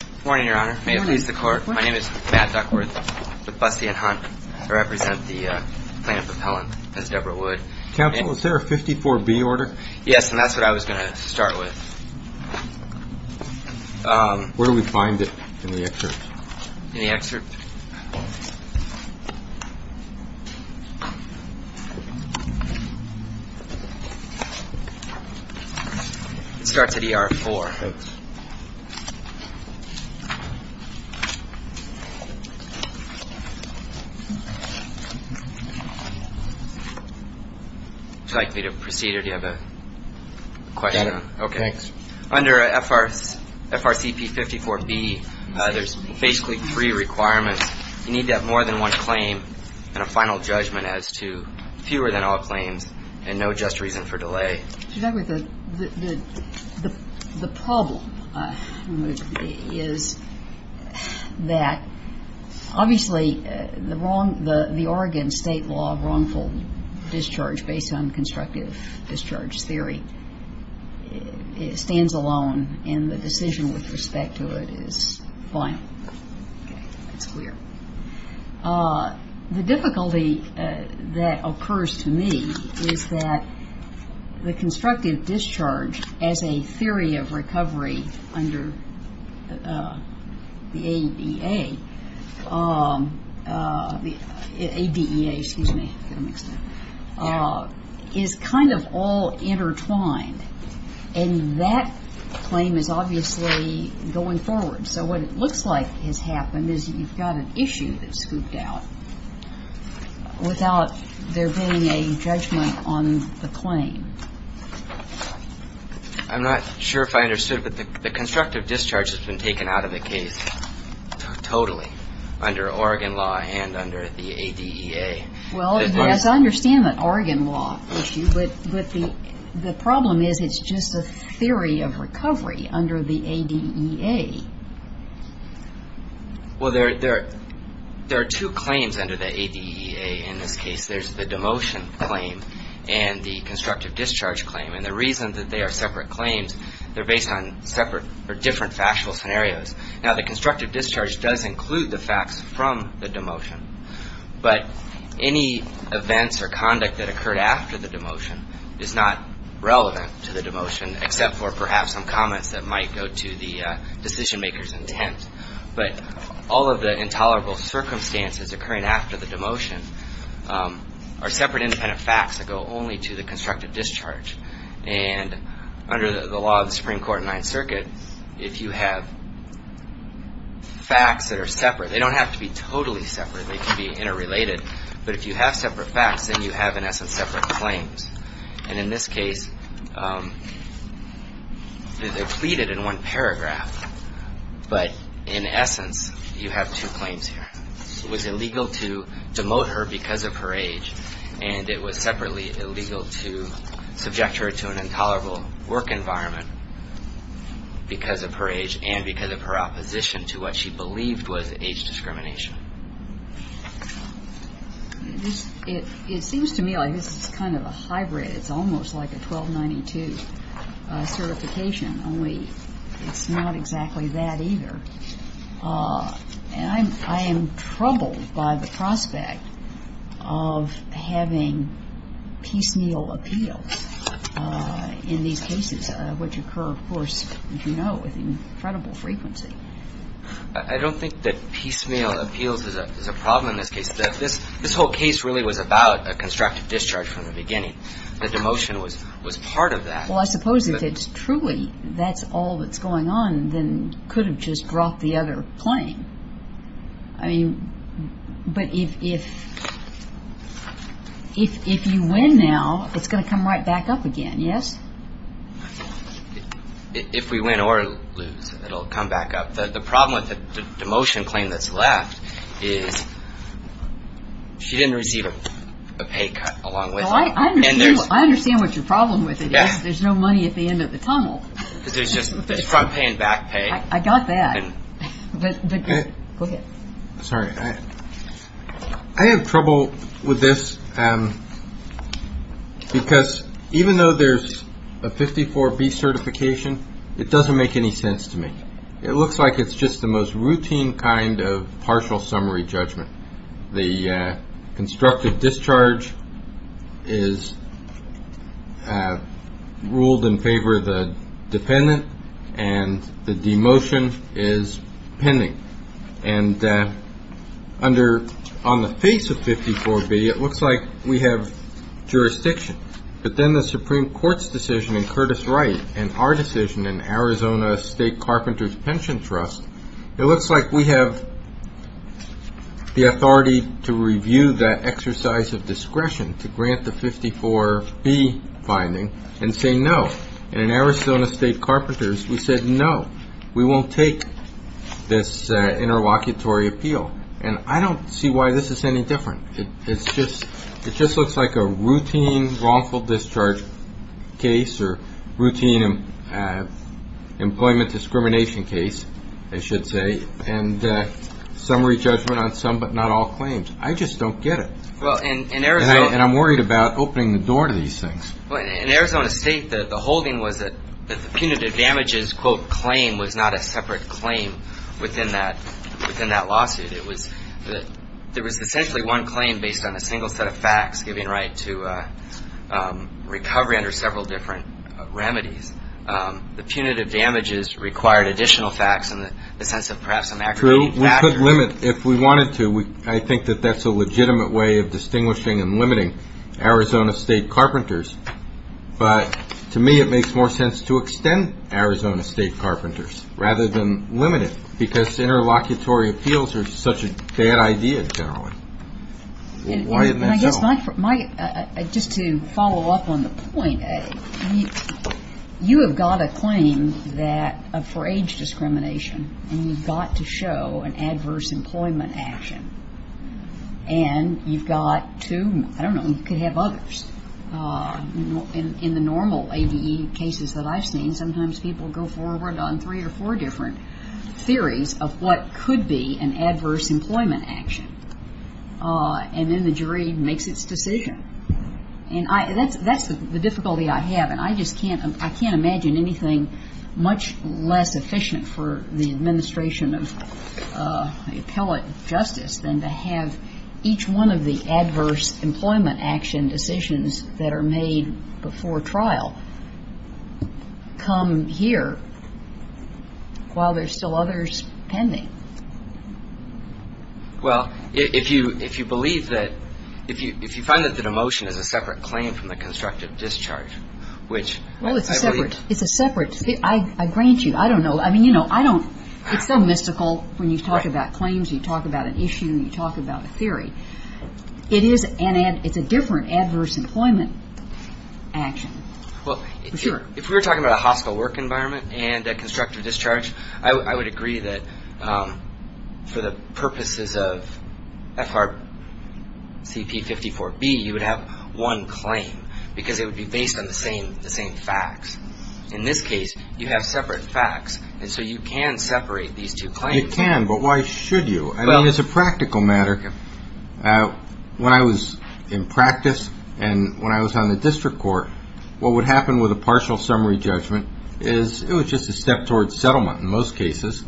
Good morning, Your Honor. May it please the Court, my name is Matt Duckworth, with Busty and Hunt. I represent the plaintiff with Helen, as Deborah would. Counsel, is there a 54B order? Yes, and that's what I was going to start with. Where do we find it in the excerpt? In the excerpt? It starts at ER-4. Thanks. Would you like me to proceed, or do you have a question? Got it. Thanks. Under FRCP 54B, there's basically three requirements. You need to have more than one claim and a final judgment as to fewer than all claims and no just reason for delay. The problem is that, obviously, the Oregon state law of wrongful discharge based on constructive discharge theory stands alone, and the decision with respect to it is final. It's clear. The difficulty that occurs to me is that the constructive discharge as a theory of recovery under the ADEA is kind of all intertwined, and that claim is obviously going forward. So what it looks like has happened is you've got an issue that's scooped out without there being a judgment on the claim. I'm not sure if I understood, but the constructive discharge has been taken out of the case totally under Oregon law and under the ADEA. Well, yes, I understand the Oregon law issue, but the problem is it's just a theory of recovery under the ADEA. Well, there are two claims under the ADEA in this case. There's the demotion claim and the constructive discharge claim, and the reason that they are separate claims, they're based on separate or different factual scenarios. Now, the constructive discharge does include the facts from the demotion, but any events or conduct that occurred after the demotion is not relevant to the demotion except for perhaps some comments that might go to the decision-maker's intent. But all of the intolerable circumstances occurring after the demotion are separate, independent facts that go only to the constructive discharge. And under the law of the Supreme Court in Ninth Circuit, if you have facts that are separate, they don't have to be totally separate. They can be interrelated, but if you have separate facts, then you have, in essence, separate claims. And in this case, they're pleaded in one paragraph, but in essence, you have two claims here. It was illegal to demote her because of her age, and it was separately illegal to subject her to an intolerable work environment because of her age and because of her opposition to what she believed was age discrimination. It seems to me like this is kind of a hybrid. It's almost like a 1292 certification, only it's not exactly that either. And I am troubled by the prospect of having piecemeal appeals in these cases, which occur, of course, as you know, with incredible frequency. I don't think that piecemeal appeals is a problem in this case. This whole case really was about a constructive discharge from the beginning. The demotion was part of that. Well, I suppose if it's truly that's all that's going on, then it could have just brought the other claim. I mean, but if you win now, it's going to come right back up again, yes? If we win or lose, it'll come back up. The problem with the demotion claim that's left is she didn't receive a pay cut along with it. I understand what your problem with it is. There's no money at the end of the tunnel. It's front pay and back pay. I got that. Go ahead. Sorry. I have trouble with this because even though there's a 54B certification, it doesn't make any sense to me. It looks like it's just the most routine kind of partial summary judgment. The constructive discharge is ruled in favor of the dependent, and the demotion is pending. And on the face of 54B, it looks like we have jurisdiction. But then the Supreme Court's decision in Curtis Wright and our decision in Arizona State Carpenters Pension Trust, it looks like we have the authority to review that exercise of discretion to grant the 54B finding and say no. And in Arizona State Carpenters, we said no. We won't take this interlocutory appeal. And I don't see why this is any different. It just looks like a routine wrongful discharge case or routine employment discrimination case, I should say, and summary judgment on some but not all claims. I just don't get it. And I'm worried about opening the door to these things. In Arizona State, the holding was that the punitive damages, quote, claim was not a separate claim within that lawsuit. It was that there was essentially one claim based on a single set of facts giving right to recovery under several different remedies. The punitive damages required additional facts in the sense of perhaps an aggravating factor. True. We could limit if we wanted to. I think that that's a legitimate way of distinguishing and limiting Arizona State Carpenters. But to me, it makes more sense to extend Arizona State Carpenters rather than limit it because interlocutory appeals are such a bad idea generally. Why isn't that so? Just to follow up on the point, you have got a claim for age discrimination, and you've got to show an adverse employment action. And you've got to, I don't know, you could have others. In the normal ADE cases that I've seen, sometimes people go forward on three or four different theories of what could be an adverse employment action. And then the jury makes its decision. And that's the difficulty I have, and I just can't imagine anything much less efficient for the administration of appellate justice than to have each one of the adverse employment action decisions that are made before trial come here while there's still others pending. Well, if you believe that, if you find that the demotion is a separate claim from the constructive discharge, which I believe. Well, it's separate. It's a separate. I grant you. I don't know. It's so mystical when you talk about claims, you talk about an issue, you talk about a theory. It's a different adverse employment action. Well, if we were talking about a hospital work environment and a constructive discharge, I would agree that for the purposes of FRCP 54B, you would have one claim, because it would be based on the same facts. In this case, you have separate facts, and so you can separate these two claims. You can, but why should you? I mean, as a practical matter, when I was in practice and when I was on the district court, what would happen with a partial summary judgment is it was just a step towards settlement in most cases.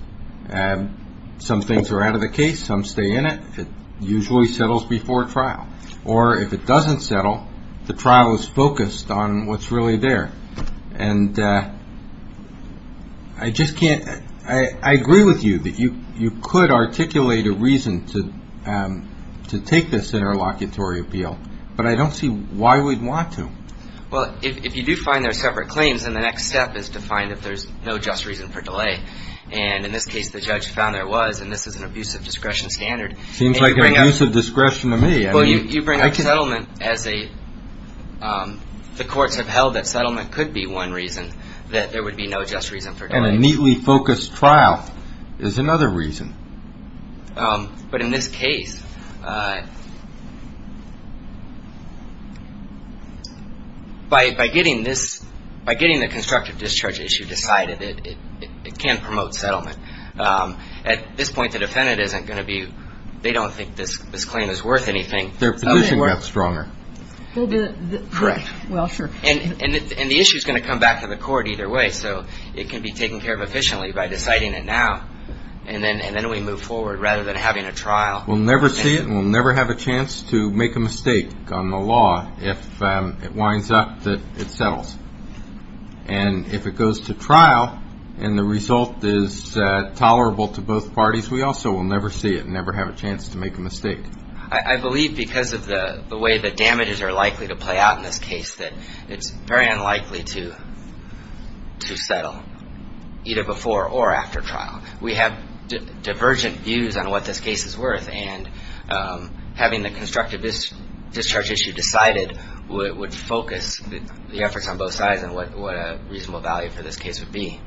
Some things are out of the case, some stay in it. It usually settles before trial. Or if it doesn't settle, the trial is focused on what's really there. And I just can't – I agree with you that you could articulate a reason to take this interlocutory appeal, but I don't see why we'd want to. Well, if you do find there are separate claims, then the next step is to find if there's no just reason for delay. And in this case, the judge found there was, and this is an abusive discretion standard. Seems like an abusive discretion to me. Well, you bring up settlement as a – the courts have held that settlement could be one reason, that there would be no just reason for delay. And a neatly focused trial is another reason. But in this case, by getting this – by getting the constructive discharge issue decided, it can promote settlement. At this point, the defendant isn't going to be – they don't think this claim is worth anything. Their position got stronger. Correct. Well, sure. And the issue is going to come back to the court either way. So it can be taken care of efficiently by deciding it now. And then we move forward rather than having a trial. We'll never see it and we'll never have a chance to make a mistake on the law if it winds up that it settles. And if it goes to trial and the result is tolerable to both parties, we also will never see it and never have a chance to make a mistake. I believe because of the way the damages are likely to play out in this case, that it's very unlikely to settle either before or after trial. We have divergent views on what this case is worth. And having the constructive discharge issue decided would focus the efforts on both sides and what a reasonable value for this case would be.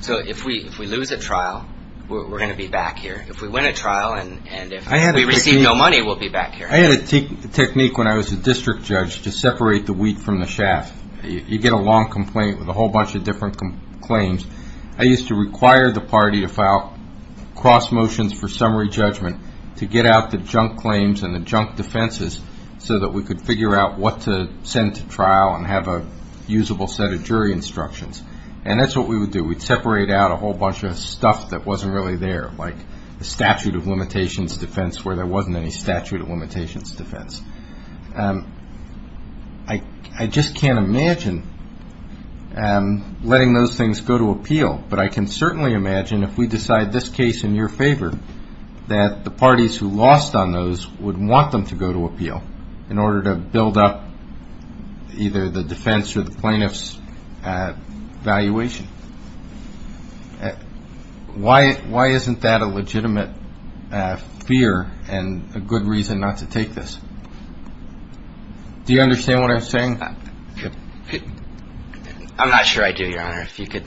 So if we lose at trial, we're going to be back here. If we win at trial and if we receive no money, we'll be back here. I had a technique when I was a district judge to separate the wheat from the chaff. You get a long complaint with a whole bunch of different claims. I used to require the party to file cross motions for summary judgment to get out the junk claims and the junk defenses so that we could figure out what to send to trial and have a usable set of jury instructions. And that's what we would do. We'd separate out a whole bunch of stuff that wasn't really there, like the statute of limitations defense where there wasn't any statute of limitations defense. I just can't imagine letting those things go to appeal. But I can certainly imagine if we decide this case in your favor, that the parties who lost on those would want them to go to appeal in order to build up either the defense or the plaintiff's valuation. Why isn't that a legitimate fear and a good reason not to take this? Do you understand what I'm saying? I'm not sure I do, Your Honor, if you could.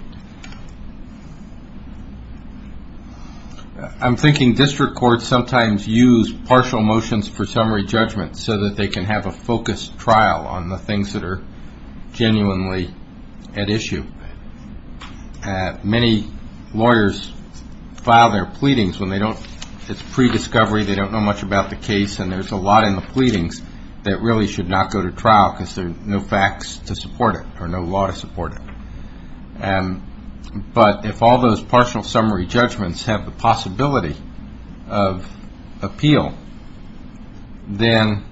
I'm thinking district courts sometimes use partial motions for summary judgment so that they can have a focused trial on the things that are genuinely at issue. Many lawyers file their pleadings when it's pre-discovery, they don't know much about the case, and there's a lot in the pleadings that really should not go to trial because there are no facts to support it or no law to support it. But if all those partial summary judgments have the possibility of appeal, then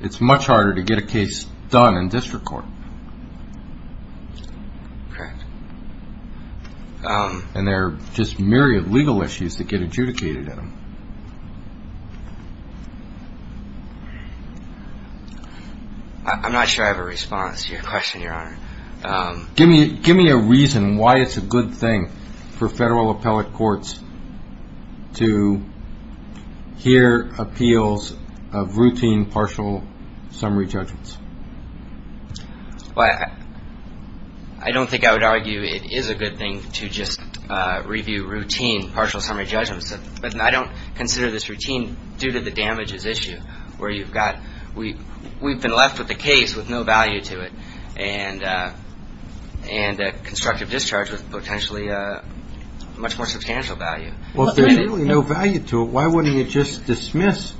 it's much harder to get a case done in district court. Correct. And there are just myriad legal issues that get adjudicated in them. I'm not sure I have a response to your question, Your Honor. Give me a reason why it's a good thing for federal appellate courts to hear appeals of routine partial summary judgments. I don't think I would argue it is a good thing to just review routine partial summary judgments. I don't consider this routine due to the damages issue where you've got We've been left with a case with no value to it and a constructive discharge with potentially a much more substantial value. Well, if there's really no value to it, why wouldn't you just dismiss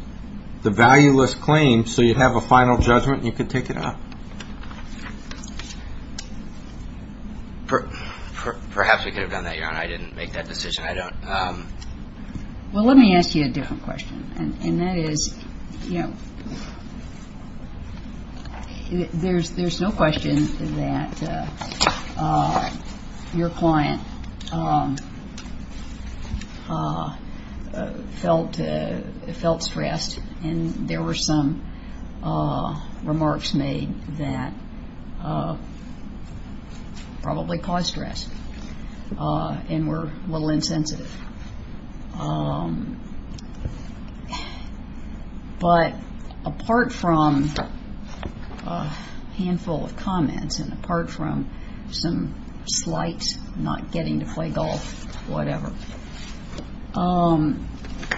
the valueless claim so you'd have a final judgment and you could take it out? Perhaps we could have done that, Your Honor. I didn't make that decision. Well, let me ask you a different question, and that is, you know, there's no question that your client felt stressed, and there were some remarks made that probably caused stress and were a little insensitive. But apart from a handful of comments and apart from some slight not getting to play golf, whatever,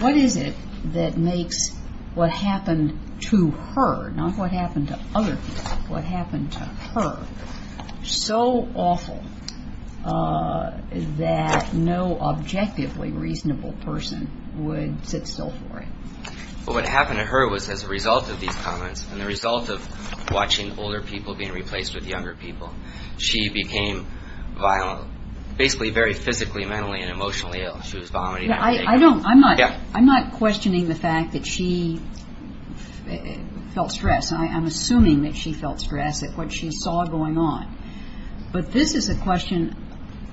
what is it that makes what happened to her, not what happened to other people, what happened to her so awful that no objectively reasonable person would sit still for it? Well, what happened to her was as a result of these comments and the result of watching older people being replaced with younger people, she became violent, basically very physically, mentally, and emotionally ill. She was vomiting. I'm not questioning the fact that she felt stress. I'm assuming that she felt stress at what she saw going on. But this is a question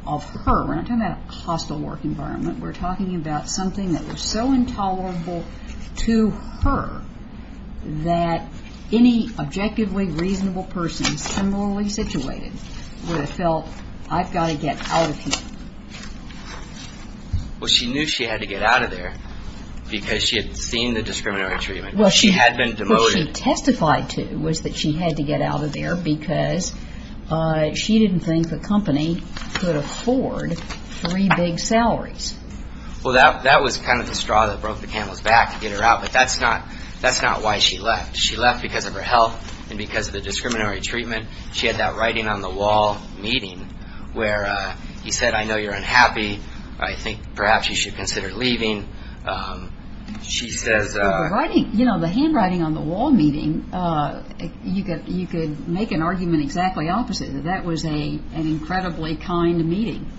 of her. We're not talking about a hostile work environment. We're talking about something that was so intolerable to her that any objectively reasonable person similarly situated would have felt, I've got to get out of here. Well, she knew she had to get out of there because she had seen the discriminatory treatment. She had been demoted. What she testified to was that she had to get out of there because she didn't think the company could afford three big salaries. Well, that was kind of the straw that broke the camel's back to get her out, but that's not why she left. She left because of her health and because of the discriminatory treatment. She had that writing on the wall meeting where he said, I know you're unhappy. I think perhaps you should consider leaving. The handwriting on the wall meeting, you could make an argument exactly opposite. That was an incredibly kind meeting,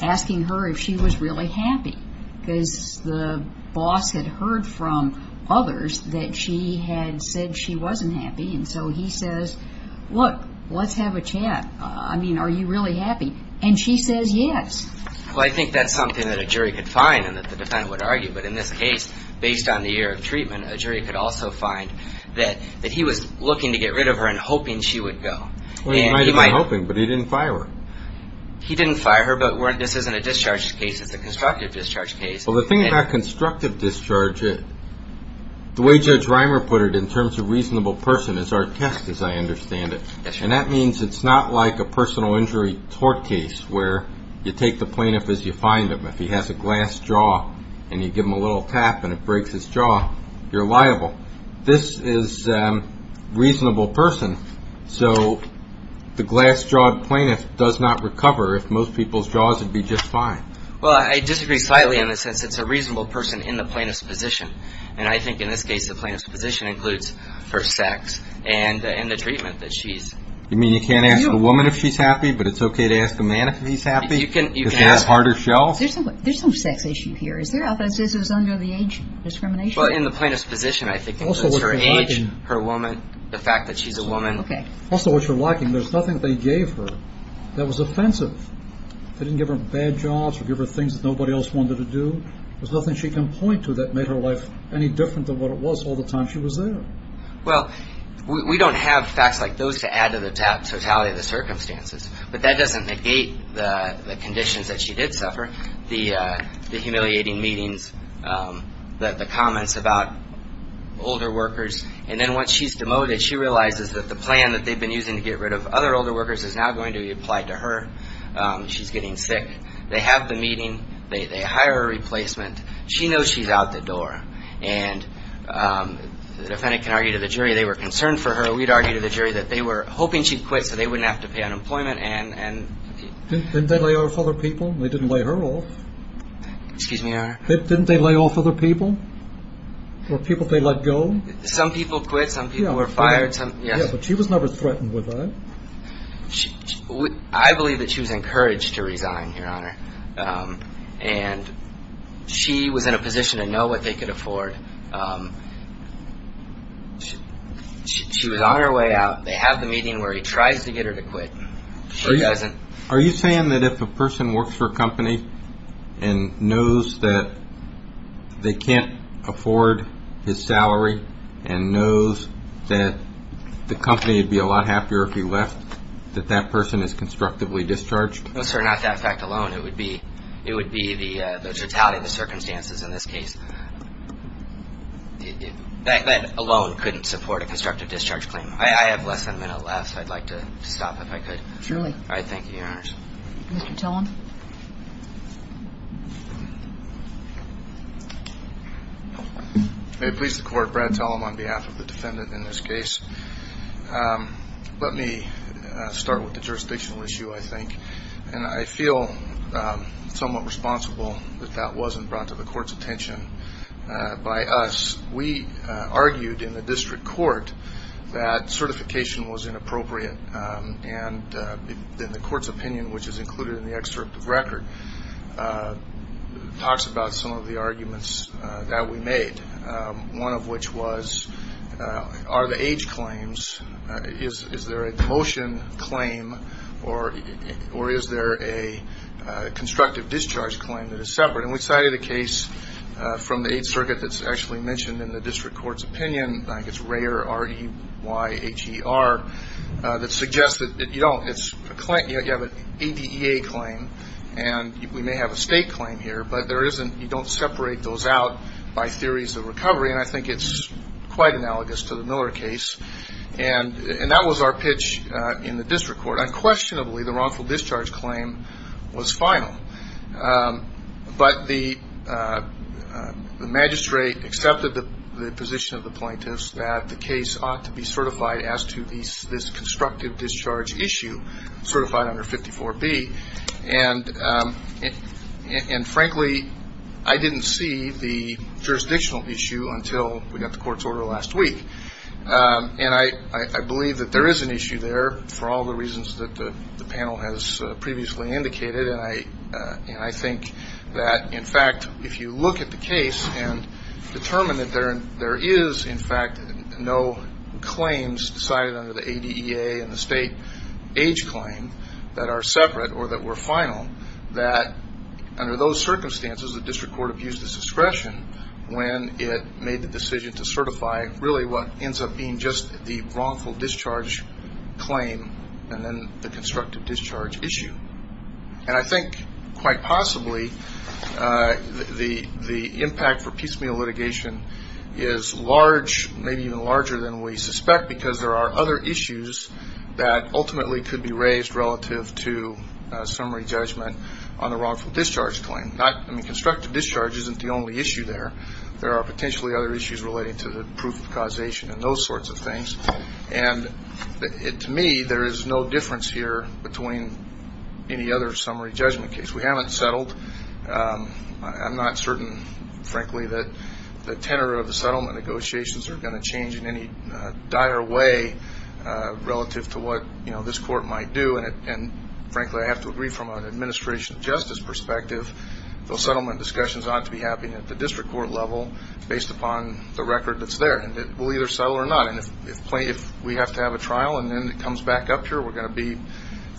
asking her if she was really happy because the boss had heard from others that she had said she wasn't happy, and so he says, look, let's have a chat. I mean, are you really happy? And she says yes. Well, I think that's something that a jury could find and that the defendant would argue, but in this case, based on the year of treatment, a jury could also find that he was looking to get rid of her and hoping she would go. Well, he might have been hoping, but he didn't fire her. He didn't fire her, but this isn't a discharge case. It's a constructive discharge case. Well, the thing about constructive discharge, the way Judge Reimer put it in terms of reasonable person is our test, as I understand it, and that means it's not like a personal injury tort case where you take the plaintiff as you find him. If he has a glass jaw and you give him a little tap and it breaks his jaw, you're liable. This is reasonable person, so the glass-jawed plaintiff does not recover if most people's jaws would be just fine. Well, I disagree slightly in the sense it's a reasonable person in the plaintiff's position, and I think in this case the plaintiff's position includes her sex and the treatment that she's received. You mean you can't ask a woman if she's happy, but it's okay to ask a man if he's happy? You can ask. Because he has a harder shell? There's some sex issue here. Is there evidence this is under the age discrimination? Well, in the plaintiff's position, I think it's her age, her woman, the fact that she's a woman. Okay. Also, what you're lacking, there's nothing they gave her that was offensive. They didn't give her bad jobs or give her things that nobody else wanted her to do. There's nothing she can point to that made her life any different than what it was all the time she was there. Well, we don't have facts like those to add to the totality of the circumstances, but that doesn't negate the conditions that she did suffer, the humiliating meetings, the comments about older workers. And then once she's demoted, she realizes that the plan that they've been using to get rid of other older workers is now going to be applied to her. She's getting sick. They have the meeting. They hire a replacement. She knows she's out the door. And the defendant can argue to the jury they were concerned for her. We'd argue to the jury that they were hoping she'd quit so they wouldn't have to pay unemployment. Didn't they lay off other people? They didn't lay her off. Excuse me, Your Honor. Didn't they lay off other people or people they let go? Some people quit. Some people were fired. Yeah, but she was never threatened with that. I believe that she was encouraged to resign, Your Honor. And she was in a position to know what they could afford. She was on her way out. They have the meeting where he tries to get her to quit. She doesn't. Are you saying that if a person works for a company and knows that they can't afford his salary and knows that the company would be a lot happier if he left, that that person is constructively discharged? No, sir, not that fact alone. It would be the totality of the circumstances in this case. That alone couldn't support a constructive discharge claim. I have less than a minute left. I'd like to stop if I could. Truly. All right. Thank you, Your Honor. Mr. Tillum. May it please the Court, Brad Tillum on behalf of the defendant in this case. Let me start with the jurisdictional issue, I think. And I feel somewhat responsible that that wasn't brought to the Court's attention by us. We argued in the district court that certification was inappropriate. And the Court's opinion, which is included in the excerpt of record, talks about some of the arguments that we made, one of which was are the age claims, is there a motion claim, or is there a constructive discharge claim that is separate? And we cited a case from the Eighth Circuit that's actually mentioned in the district court's opinion, I think it's Rayer, R-E-Y-H-E-R, that suggests that you don't. It's a claim. You have an ADEA claim, and we may have a state claim here, but you don't separate those out by theories of recovery, and I think it's quite analogous to the Miller case. And that was our pitch in the district court. Unquestionably, the wrongful discharge claim was final. But the magistrate accepted the position of the plaintiffs that the case ought to be certified as to this constructive discharge issue, certified under 54B. And, frankly, I didn't see the jurisdictional issue until we got the court's order last week. And I believe that there is an issue there for all the reasons that the panel has previously indicated, and I think that, in fact, if you look at the case and determine that there is, in fact, no claims decided under the ADEA and the state age claim that are separate or that were final, that under those circumstances, the district court abused its discretion when it made the decision to certify really what ends up being just the wrongful discharge claim and then the constructive discharge issue. And I think, quite possibly, the impact for piecemeal litigation is large, maybe even larger than we suspect because there are other issues that ultimately could be raised relative to summary judgment on the wrongful discharge claim. I mean, constructive discharge isn't the only issue there. There are potentially other issues relating to the proof of causation and those sorts of things. And to me, there is no difference here between any other summary judgment case. We haven't settled. I'm not certain, frankly, that the tenor of the settlement negotiations are going to change in any dire way relative to what, you know, this court might do. And, frankly, I have to agree from an administration justice perspective, those settlement discussions ought to be happening at the district court level based upon the record that's there. And it will either settle or not. And if we have to have a trial and then it comes back up here, we're going to be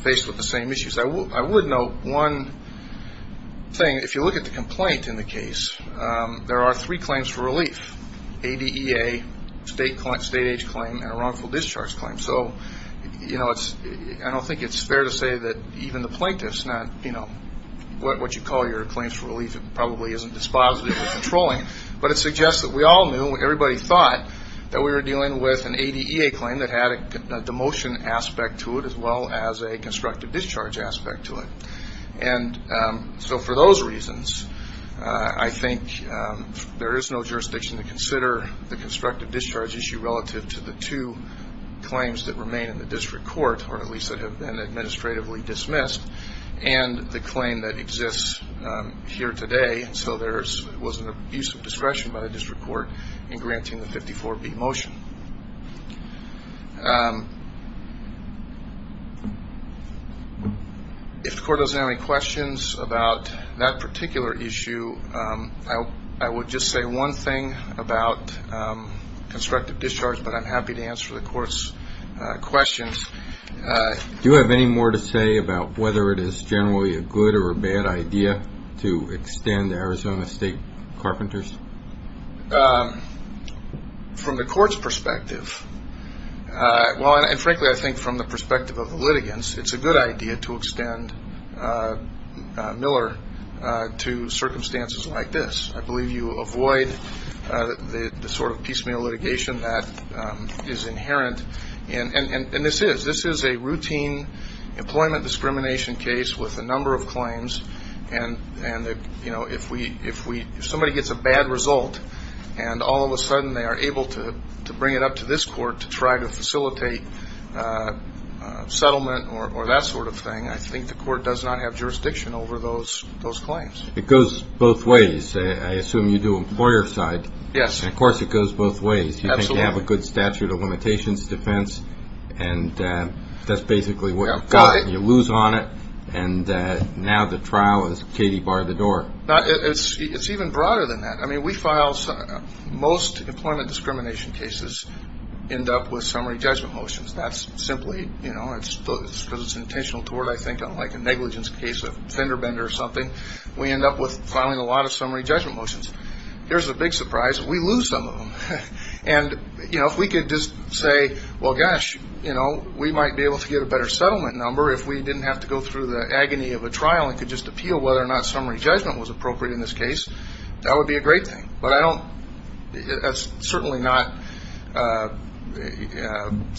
faced with the same issues. I would note one thing. If you look at the complaint in the case, there are three claims for relief, ADEA, state age claim, and a wrongful discharge claim. So, you know, I don't think it's fair to say that even the plaintiff's not, you know, what you call your claims for relief, it probably isn't dispositive or controlling. But it suggests that we all knew, everybody thought, that we were dealing with an ADEA claim that had a demotion aspect to it as well as a constructive discharge aspect to it. And so for those reasons, I think there is no jurisdiction to consider the constructive discharge issue relative to the two claims that remain in the district court, or at least that have been administratively dismissed, and the claim that exists here today. And so there was an abuse of discretion by the district court in granting the 54B motion. If the court doesn't have any questions about that particular issue, I would just say one thing about constructive discharge, but I'm happy to answer the court's questions. Do you have any more to say about whether it is generally a good or a bad idea to extend Arizona State Carpenters? From the court's perspective, well, and frankly, I think from the perspective of the litigants, it's a good idea to extend Miller to circumstances like this. I believe you avoid the sort of piecemeal litigation that is inherent, and this is. This is a routine employment discrimination case with a number of claims, and if somebody gets a bad result and all of a sudden they are able to bring it up to this court to try to facilitate settlement or that sort of thing, I think the court does not have jurisdiction over those claims. It goes both ways. I assume you do employer side. Yes. And of course it goes both ways. Absolutely. You think you have a good statute of limitations defense, and that's basically what you've got. You lose on it, and now the trial is Katie bar the door. It's even broader than that. I mean, we file most employment discrimination cases end up with summary judgment motions. That's simply, you know, because it's intentional toward, I think, like a negligence case of fender bender or something. We end up with filing a lot of summary judgment motions. Here's the big surprise. We lose some of them, and, you know, if we could just say, well, gosh, you know, we might be able to get a better settlement number if we didn't have to go through the agony of a trial and could just appeal whether or not summary judgment was appropriate in this case. That would be a great thing, but I don't. That's certainly not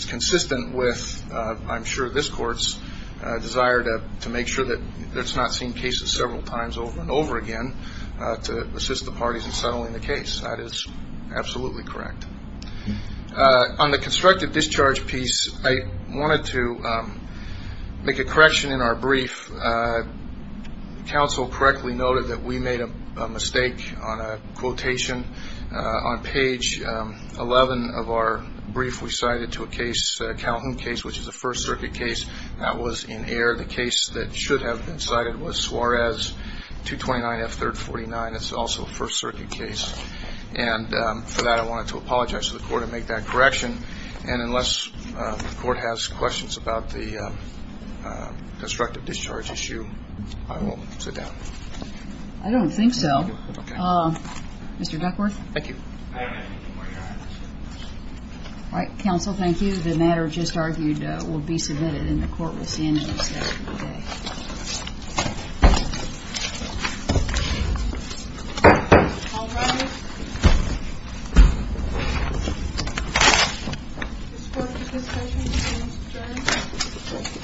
consistent with, I'm sure, this court's desire to make sure that it's not seen cases several times over and over again to assist the parties in settling the case. That is absolutely correct. On the constructive discharge piece, I wanted to make a correction in our brief. Counsel correctly noted that we made a mistake on a quotation. On page 11 of our brief, we cited to a case, a Calhoun case, which is a First Circuit case. That was in error. The case that should have been cited was Suarez 229F349. It's also a First Circuit case. And for that, I wanted to apologize to the court and make that correction. And unless the court has questions about the constructive discharge issue, I will sit down. I don't think so. Okay. Mr. Duckworth? Thank you. I have nothing more to add. All right. Counsel, thank you. The matter just argued will be submitted, and the court will see end of discussion today. All rise. This court is discussing the constructive discharge. Thank you.